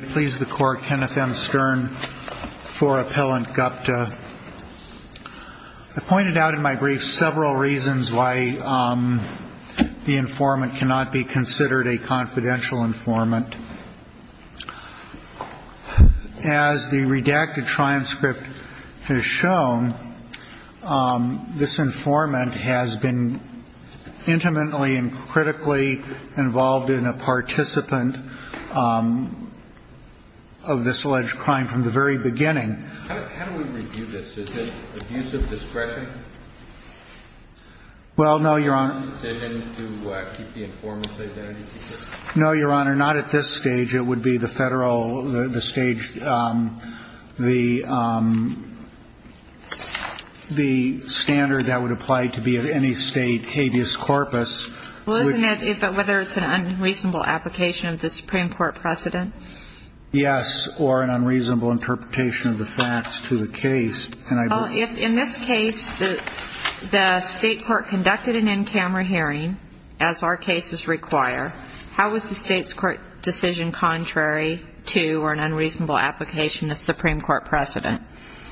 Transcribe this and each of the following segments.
Kenneth M. Stern for Appellant GUPTA. I pointed out in my brief several reasons why the informant cannot be considered a confidential informant. As the redacted transcript has shown, this informant has been intimately and critically involved in a participant, a participant in this alleged crime from the very beginning. Well, no, Your Honor. No, Your Honor, not at this stage. It would be the federal, the stage, the standard that would apply to be of any state habeas corpus. Well, isn't it whether it's an unreasonable application of the Supreme Court precedent? Yes, or an unreasonable interpretation of the facts to the case. Well, if in this case the state court conducted an in-camera hearing, as our cases require, how was the state's court decision contrary to or an unreasonable application of the Supreme Court precedent?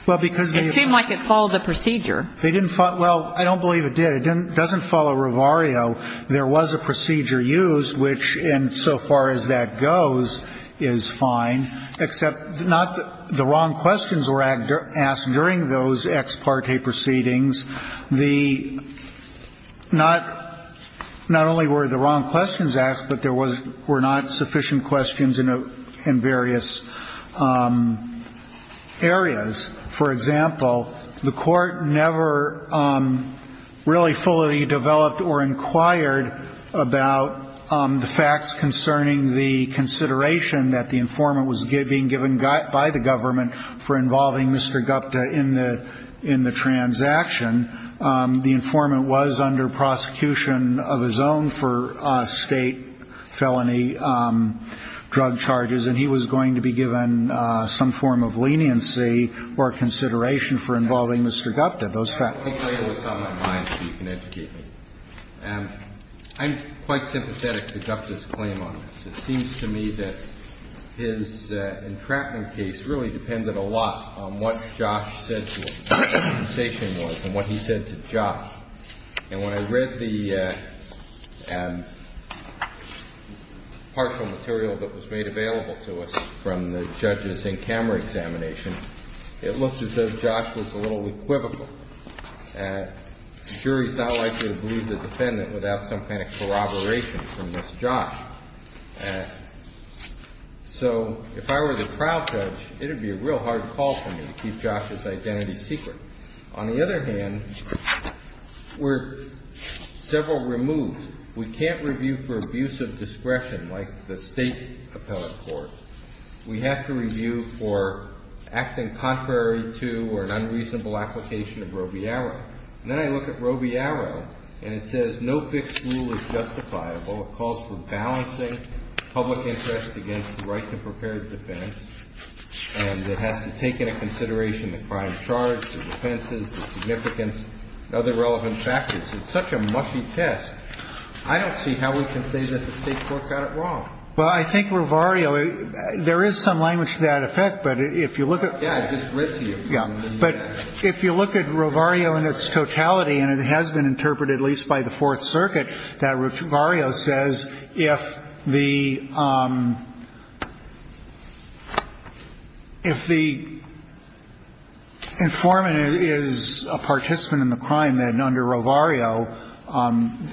It seemed like it followed the procedure. They didn't follow, well, I don't believe it did. It doesn't follow Revario. There was a procedure used, which in so far as that goes is fine, except not the wrong questions were asked during those ex parte proceedings. The not, not only were the wrong questions asked, but there was, were not sufficient questions in various areas. For example, the court never really fully developed or inquired about the facts concerning the consideration that the informant was being given by the government for involving Mr. Gupta in the, in the transaction. The informant was under prosecution of his own for state felony drug charges, and he was going to be given some form of leniency, but he was not. And so the court never really developed a proper consideration for involving Mr. Gupta. Those facts. I'll take later what's on my mind so you can educate me. I'm quite sympathetic to Gupta's claim on this. It seems to me that his entrapment case really depended a lot on what Josh said to him, what his compensation was and what he said to Josh. And when I read the partial material that was made available to us from the judges in camera examination, it looked as though Josh was a little equivocal. The jury is not likely to believe the defendant without some kind of corroboration from Ms. Josh. So if I were the trial judge, it would be a real hard call for me to keep Josh's identity secret. On the other hand, we're several removes. We can't review for abuse of discretion like the state appellate court. We have to review for acting contrary to or an unreasonable application of Roe v. Arrow. And then I look at Roe v. Arrow, and it says no fixed rule is justifiable. It calls for balancing public interest against the right to prepared defense. And it has to take into consideration the crime charge, the defenses, the significance, other relevant factors. It's such a mushy test. I don't see how we can say that the state court got it wrong. Well, I think Roe v. Arrow, there is some language to that effect, but if you look at. Yeah, I just read to you. Yeah, but if you look at Roe v. Arrow in its totality, and it has been interpreted at least by the Fourth Circuit, that Roe v. Arrow says if the informant is a participant in the crime, then under Roe v. Arrow,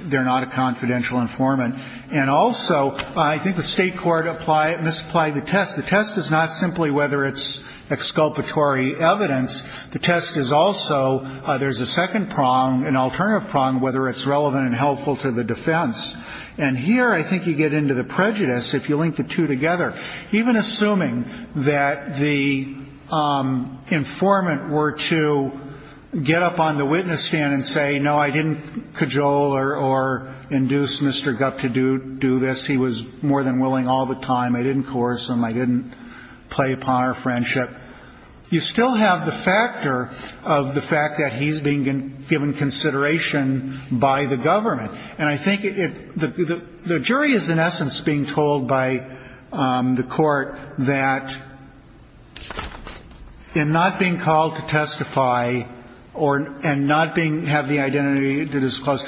they're not a confidential informant. And also, I think the state court misapplied the test. The test is not simply whether it's exculpatory evidence. The test is also there's a second prong, an alternative prong, whether it's relevant and helpful to the defense. And here I think you get into the prejudice if you link the two together. Even assuming that the informant were to get up on the witness stand and say, no, I didn't cajole or induce Mr. Gup to do this. He was more than willing all the time. I didn't coerce him. I didn't play upon our friendship. You still have the factor of the fact that he's being given consideration by the government. And I think the jury is, in essence, being told by the court that in not being called to testify or in not having the identity disclosed,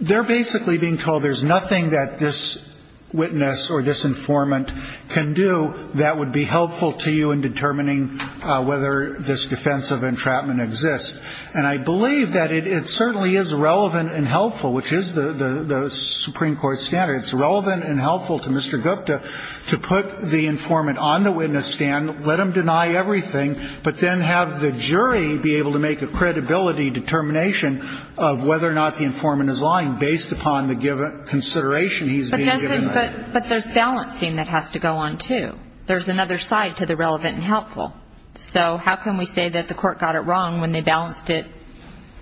they're basically being told there's nothing that this witness or this informant can do that would be helpful to you in determining whether this defensive entrapment exists. And I believe that it certainly is relevant and helpful, which is the Supreme Court standard. It's relevant and helpful to Mr. Gupta to put the informant on the witness stand, let him deny everything, but then have the jury be able to make a credibility determination of whether or not the informant is lying based upon the given consideration he's being given. But there's balancing that has to go on, too. There's another side to the relevant and helpful. So how can we say that the court got it wrong when they balanced it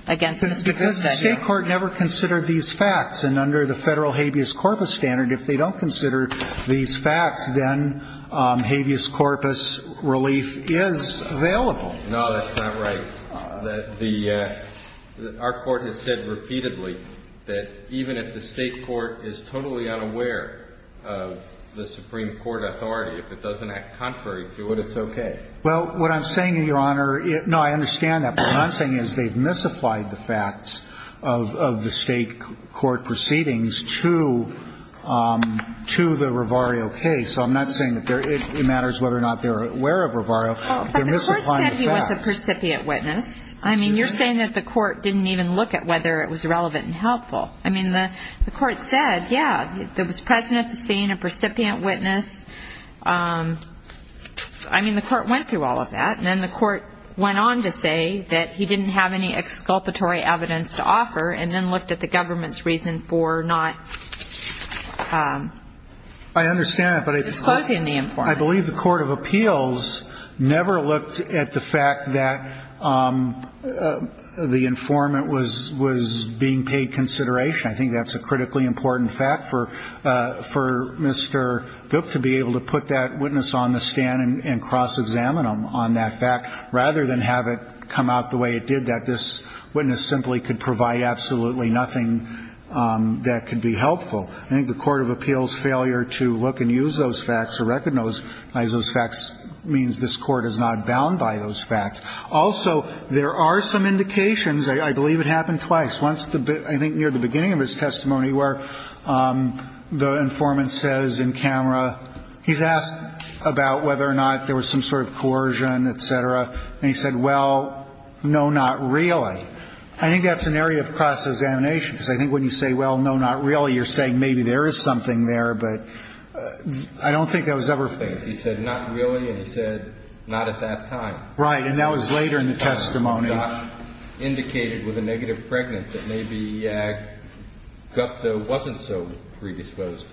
against Mr. Gupta? Because the state court never considered these facts. And under the federal habeas corpus standard, if they don't consider these facts, then habeas corpus relief is available. No, that's not right. Our court has said repeatedly that even if the state court is totally unaware of the Supreme Court authority, if it doesn't act contrary to it, it's okay. Well, what I'm saying, Your Honor, no, I understand that. But what I'm saying is they've misapplied the facts of the state court proceedings to the Revario case. So I'm not saying that it matters whether or not they're aware of Revario. They're misapplying the facts. But the court said he was a percipient witness. I mean, you're saying that the court didn't even look at whether it was relevant and helpful. I mean, the court said, yeah, it was present at the scene, a percipient witness. I mean, the court went through all of that. And then the court went on to say that he didn't have any exculpatory evidence to offer and then looked at the government's reason for not disclosing the informant. I think that's a critically important fact for Mr. Gook to be able to put that witness on the stand and cross-examine him on that fact rather than have it come out the way it did, that this witness simply could provide absolutely nothing that could be helpful. I think the court of appeals' failure to look and use those facts or recognize those facts means this court is not bound by those facts. Also, there are some indications. I believe it happened twice. Once, I think, near the beginning of his testimony where the informant says in camera he's asked about whether or not there was some sort of coercion, et cetera. And he said, well, no, not really. I think that's an area of cross-examination because I think when you say, well, no, not really, you're saying maybe there is something there. But I don't think that was ever faced. He said, not really. And he said, not at that time. Right. And that was later in the testimony. And Josh indicated with a negative pregnant that maybe Gupta wasn't so predisposed.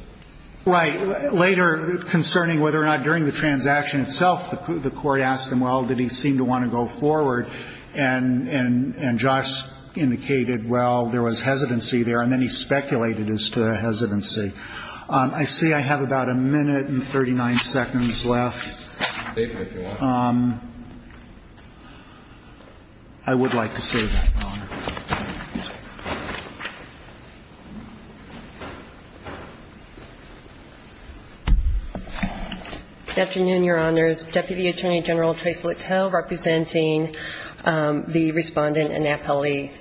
Right. Later concerning whether or not during the transaction itself the court asked him, well, did he seem to want to go forward. And Josh indicated, well, there was hesitancy there. And then he speculated as to the hesitancy. I see I have about a minute and 39 seconds left. I would like to say that, Your Honor. Good afternoon, Your Honors. Deputy Attorney General Trace Littell representing the respondent and appellee.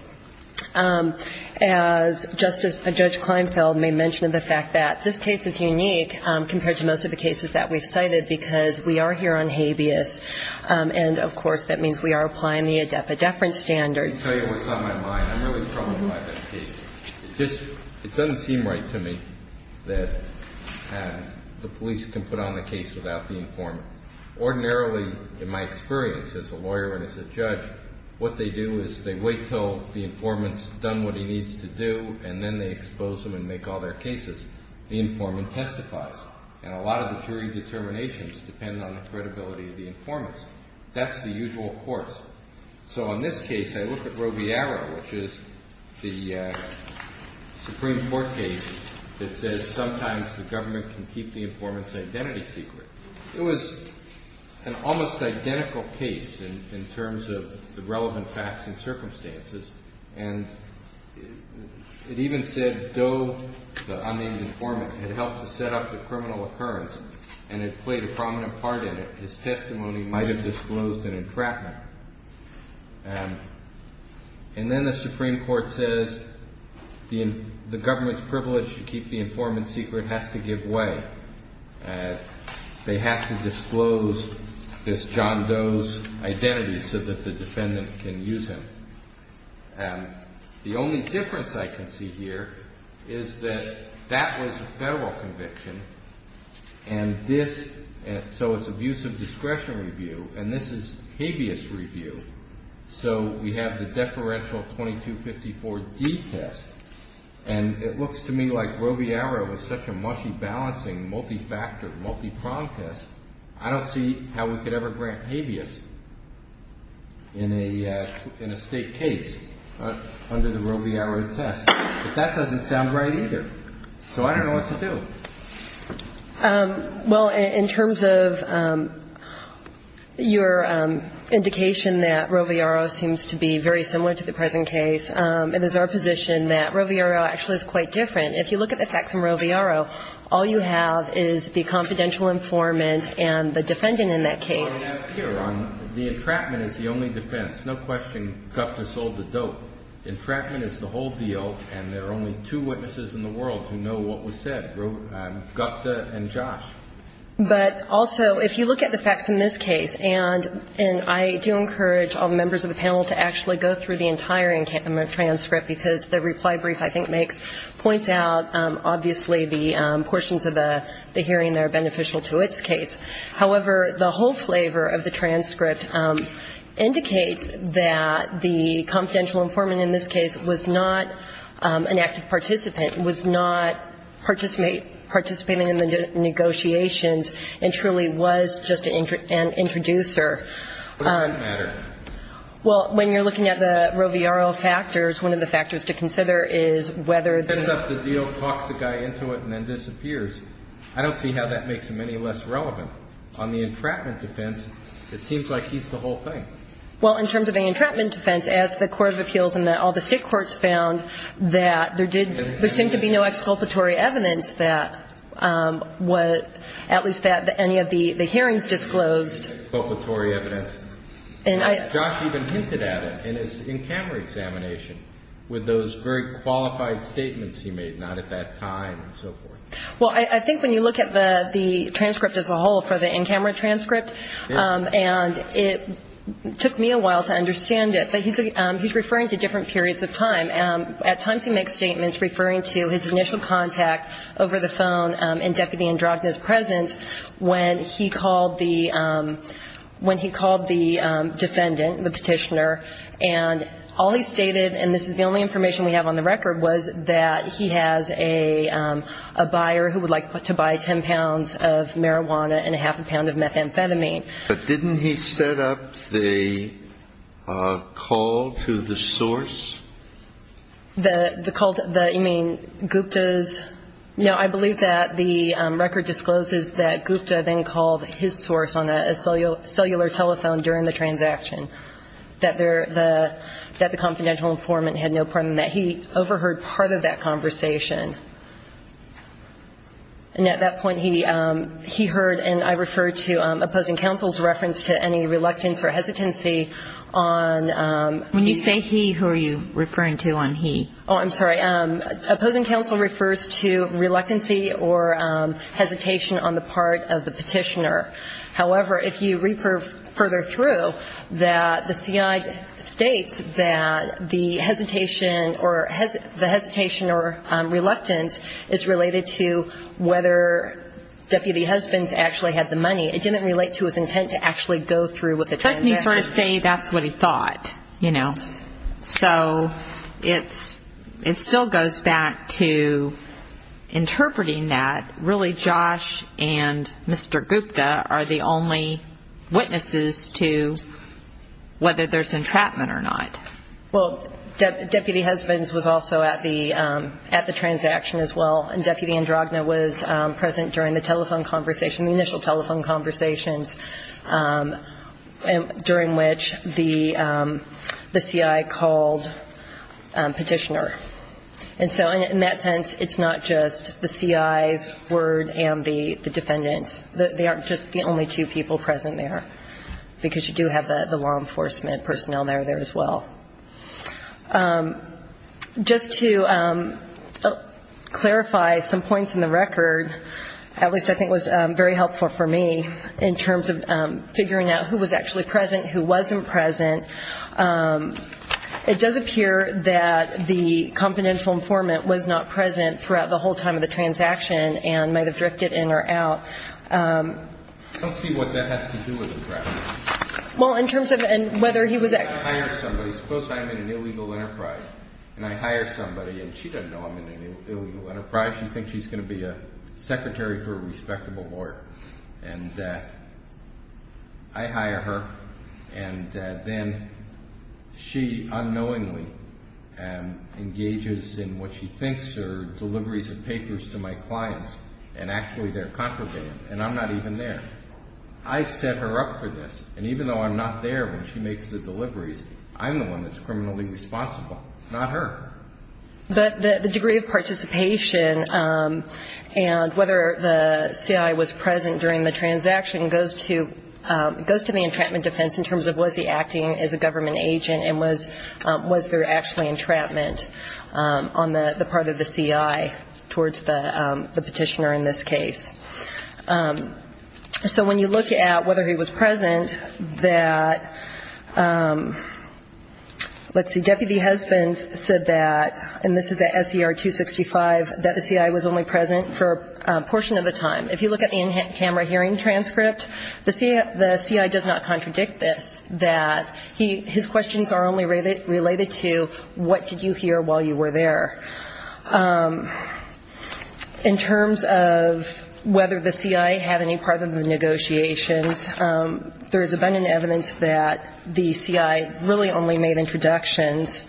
As Justice Judge Kleinfeld may mention, the fact that this case is unique compared to most of the cases that we've cited because we are here on habeas and, of course, that means we are applying the adepa deference standard. Let me tell you what's on my mind. I'm really troubled by this case. It doesn't seem right to me that the police can put on the case without the informant. Ordinarily, in my experience as a lawyer and as a judge, what they do is they wait until the informant's done what he needs to do, and then they expose him and make all their cases. The informant testifies. And a lot of the jury determinations depend on the credibility of the informant. That's the usual course. So, in this case, I look at Robillard, which is the Supreme Court case that says sometimes the government can keep the informant's identity secret. It was an almost identical case in terms of the relevant facts and circumstances. And it even said Doe, the unnamed informant, had helped to set up the criminal occurrence and had played a prominent part in it. His testimony might have disclosed an entrapment. And then the Supreme Court says the government's privilege to keep the informant's secret has to give way. They have to disclose this John Doe's identity so that the defendant can use him. The only difference I can see here is that that was a federal conviction. And this, so it's abusive discretion review. And this is habeas review. So we have the deferential 2254D test. And it looks to me like Robillard was such a mushy, balancing, multifactor, multipronged test. I don't see how we could ever grant habeas in a state case under the Robillard test. But that doesn't sound right either. So I don't know what to do. Well, in terms of your indication that Robillard seems to be very similar to the present case, it is our position that Roviaro actually is quite different. If you look at the facts in Roviaro, all you have is the confidential informant and the defendant in that case. The entrapment is the only defense. No question Gupta sold the dope. Entrapment is the whole deal. And there are only two witnesses in the world who know what was said, Gupta and Josh. But also, if you look at the facts in this case, and I do encourage all the members of the panel to actually go through the entire transcript, because the reply brief, I think, points out, obviously, the portions of the hearing that are beneficial to its case. However, the whole flavor of the transcript indicates that the confidential informant in this case was not an active participant, was not participating in the negotiations, and truly was just an introducer. What about the matter? Well, when you're looking at the Roviaro factors, one of the factors to consider is whether the ---- Sets up the deal, talks the guy into it, and then disappears. I don't see how that makes him any less relevant. On the entrapment defense, it seems like he's the whole thing. Well, in terms of the entrapment defense, as the Court of Appeals and all the state courts found, that there did ---- there seemed to be no exculpatory evidence that was at least that any of the hearings disclosed. Exculpatory evidence. And I ---- Josh even hinted at it in his in-camera examination with those very qualified statements he made, not at that time and so forth. Well, I think when you look at the transcript as a whole for the in-camera transcript, and it took me a while to understand it, but he's referring to different periods of time. At times he makes statements referring to his initial contact over the phone in Deputy Androgna's presence when he called the defendant, the petitioner. And all he stated, and this is the only information we have on the record, was that he has a buyer who would like to buy 10 pounds of marijuana and a half a pound of methamphetamine. But didn't he set up the call to the source? The call to the ---- you mean Gupta's? No, I believe that the record discloses that Gupta then called his source on a cellular telephone during the transaction, that the confidential informant had no problem. He overheard part of that conversation. And at that point he heard, and I refer to opposing counsel's reference to any reluctance or hesitancy on ---- When you say he, who are you referring to on he? Oh, I'm sorry. Opposing counsel refers to reluctancy or hesitation on the part of the petitioner. However, if you read further through, the CI states that the hesitation or reluctance is related to whether Deputy Husband's actually had the money. It didn't relate to his intent to actually go through with the transaction. You can sort of say that's what he thought, you know. So it still goes back to interpreting that really Josh and Mr. Gupta are the only witnesses to whether there's entrapment or not. Well, Deputy Husband's was also at the transaction as well. And Deputy Androgna was present during the telephone conversation, the initial telephone conversations, during which the CI called Petitioner. And so in that sense, it's not just the CI's word and the defendant's. They aren't just the only two people present there, because you do have the law enforcement personnel there as well. Just to clarify some points in the record, at least I think was very helpful for me, in terms of figuring out who was actually present, who wasn't present, it does appear that the confidential informant was not present throughout the whole time of the transaction and might have drifted in or out. I don't see what that has to do with entrapment. Well, in terms of whether he was actually present. Suppose I'm in an illegal enterprise, and I hire somebody, and she doesn't know I'm in an illegal enterprise. She thinks she's going to be a secretary for a respectable lawyer. And I hire her, and then she unknowingly engages in what she thinks are deliveries of papers to my clients, and actually they're contraband, and I'm not even there. I set her up for this, and even though I'm not there when she makes the deliveries, I'm the one that's criminally responsible, not her. But the degree of participation and whether the CI was present during the transaction goes to the entrapment defense in terms of was he acting as a government agent, and was there actually entrapment on the part of the CI towards the petitioner in this case. So when you look at whether he was present, that, let's see, Deputy Husbands said that, and this is at SCR 265, that the CI was only present for a portion of the time. If you look at the in-camera hearing transcript, the CI does not contradict this, that his questions are only related to what did you hear while you were there. In terms of whether the CI had any part of the negotiations, there has been evidence that the CI really only made introductions,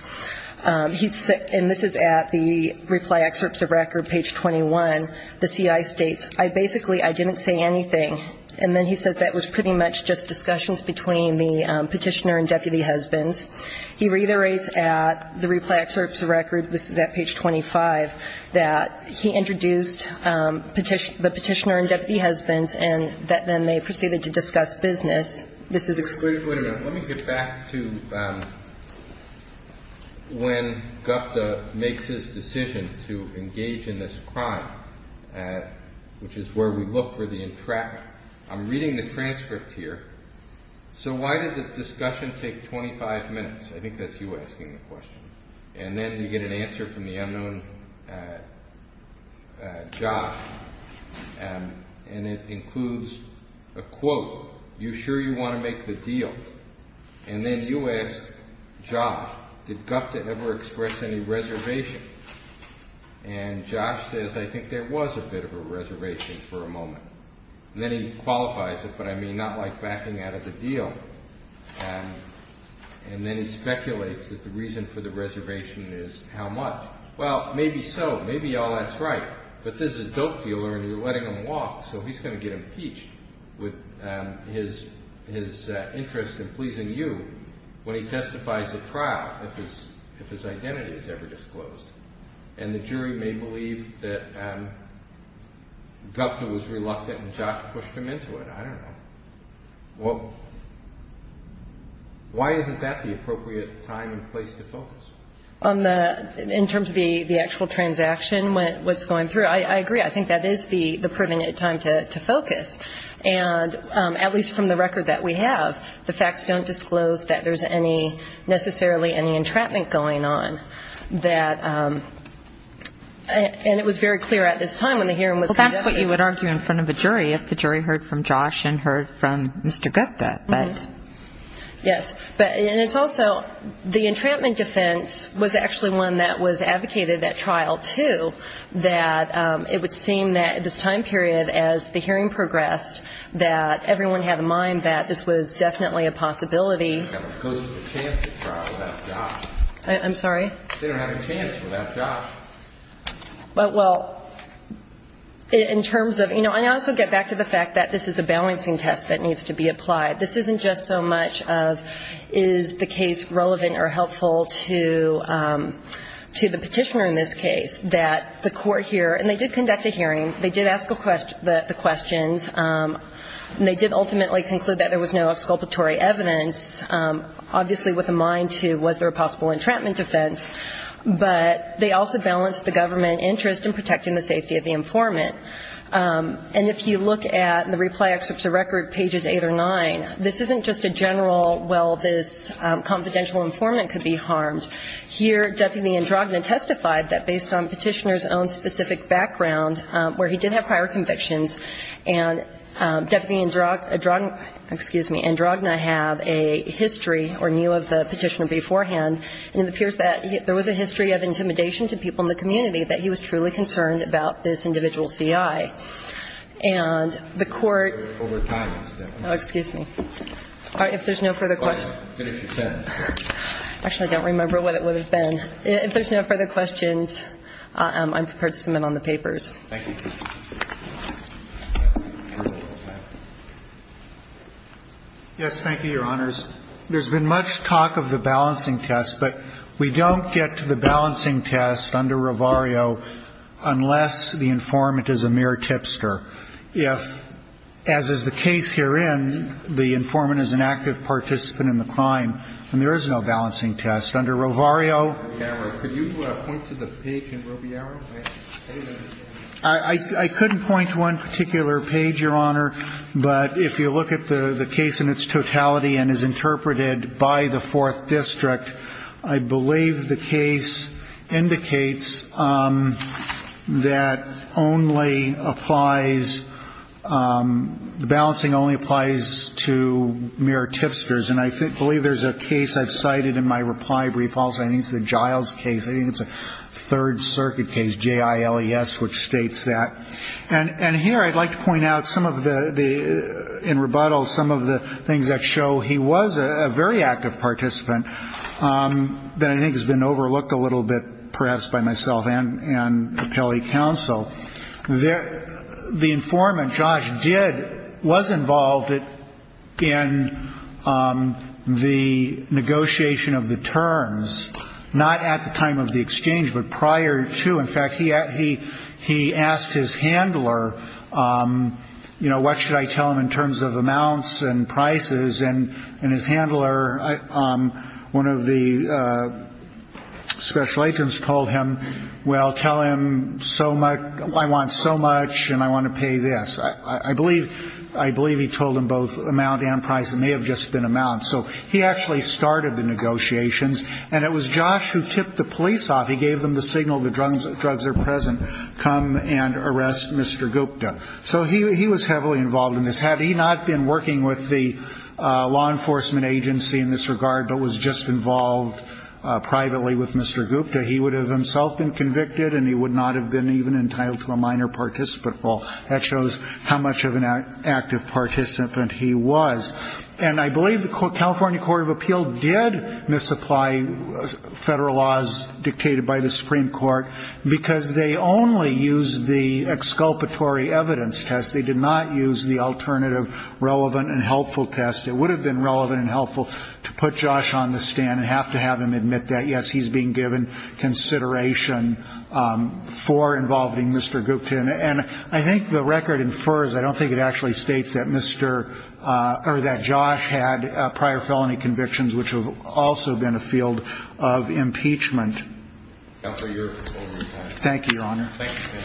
and this is at the reply excerpts of record, page 21. The CI states, basically, I didn't say anything, and then he says that was pretty much just discussions between the petitioner and Deputy Husbands. He reiterates at the reply excerpts of record, this is at page 25, that he introduced the petitioner and Deputy Husbands, and that then they proceeded to discuss business. This is excluded. Wait a minute. Let me get back to when Gupta makes his decision to engage in this crime, which is where we look for the entrapment. I'm reading the transcript here. So why did the discussion take 25 minutes? I think that's you asking the question. And then you get an answer from the unknown, Josh, and it includes a quote, you sure you want to make the deal? And then you ask Josh, did Gupta ever express any reservation? And Josh says, I think there was a bit of a reservation for a moment. And then he qualifies it, but I mean not like backing out of the deal. And then he speculates that the reason for the reservation is how much. Well, maybe so. Maybe all that's right. But this is a dope dealer and you're letting him walk, so he's going to get impeached with his interest in pleasing you when he testifies at trial, if his identity is ever disclosed. And the jury may believe that Gupta was reluctant and Josh pushed him into it. I don't know. Why isn't that the appropriate time and place to focus? In terms of the actual transaction, what's going through, I agree. I think that is the permanent time to focus. And at least from the record that we have, the facts don't disclose that there's necessarily any entrapment going on. And it was very clear at this time when the hearing was conducted. Well, that's what you would argue in front of a jury if the jury heard from Josh and heard from Mr. Gupta. Yes. And it's also the entrapment defense was actually one that was advocated at trial, too, that it would seem that at this time period as the hearing progressed, that everyone had in mind that this was definitely a possibility. I'm sorry? They don't have a chance without Josh. Well, in terms of you know, I also get back to the fact that this is a balancing test that needs to be applied. This isn't just so much of is the case relevant or helpful to the Petitioner in this case, that the court here, and they did conduct a hearing. They did ask the questions. And they did ultimately conclude that there was no exculpatory evidence, obviously with a mind to was there a possible entrapment defense. But they also balanced the government interest in protecting the safety of the informant. And if you look at the reply excerpt to record pages eight or nine, this isn't just a general, well, this confidential informant could be harmed. Here, Deputy Androgna testified that based on Petitioner's own specific background, where he did have prior convictions. And Deputy Androgna, excuse me, Androgna have a history or knew of the Petitioner beforehand. And it appears that there was a history of intimidation to people in the community that he was truly concerned about this individual C.I. And the court. Over time. Oh, excuse me. All right. If there's no further questions. Finish your sentence. Actually, I don't remember what it would have been. If there's no further questions, I'm prepared to submit on the papers. Thank you. Yes, thank you, Your Honors. There's been much talk of the balancing test, but we don't get to the balancing test under Rovario unless the informant is a mere tipster. If, as is the case herein, the informant is an active participant in the crime, then there is no balancing test. Under Rovario. Could you point to the page in Rovario? I couldn't point to one particular page, Your Honor. But if you look at the case in its totality and is interpreted by the Fourth District, I believe the case indicates that only applies, balancing only applies to mere tipsters. And I believe there's a case I've cited in my reply brief. I think it's the Giles case. I think it's a Third Circuit case, J-I-L-E-S, which states that. And here I'd like to point out some of the, in rebuttal, some of the things that show he was a very active participant that I think has been overlooked a little bit perhaps by myself and the Pele council. The informant, Josh, did, was involved in the negotiation of the terms. Not at the time of the exchange, but prior to. In fact, he asked his handler, you know, what should I tell him in terms of amounts and prices? And his handler, one of the special agents told him, well, tell him so much, I want so much and I want to pay this. I believe he told him both amount and price. It may have just been amount. So he actually started the negotiations. And it was Josh who tipped the police off. He gave them the signal the drugs are present. Come and arrest Mr. Gupta. So he was heavily involved in this. Had he not been working with the law enforcement agency in this regard, but was just involved privately with Mr. Gupta, he would have himself been convicted and he would not have been even entitled to a minor participant. Well, that shows how much of an active participant he was. And I believe the California Court of Appeal did misapply federal laws dictated by the Supreme Court because they only used the exculpatory evidence test. They did not use the alternative relevant and helpful test. It would have been relevant and helpful to put Josh on the stand and have to have him admit that, yes, he's being given consideration for involving Mr. Gupta. And I think the record infers, I don't think it actually states, that Josh had prior felony convictions, which have also been a field of impeachment. Thank you, Your Honor. Thank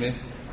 you.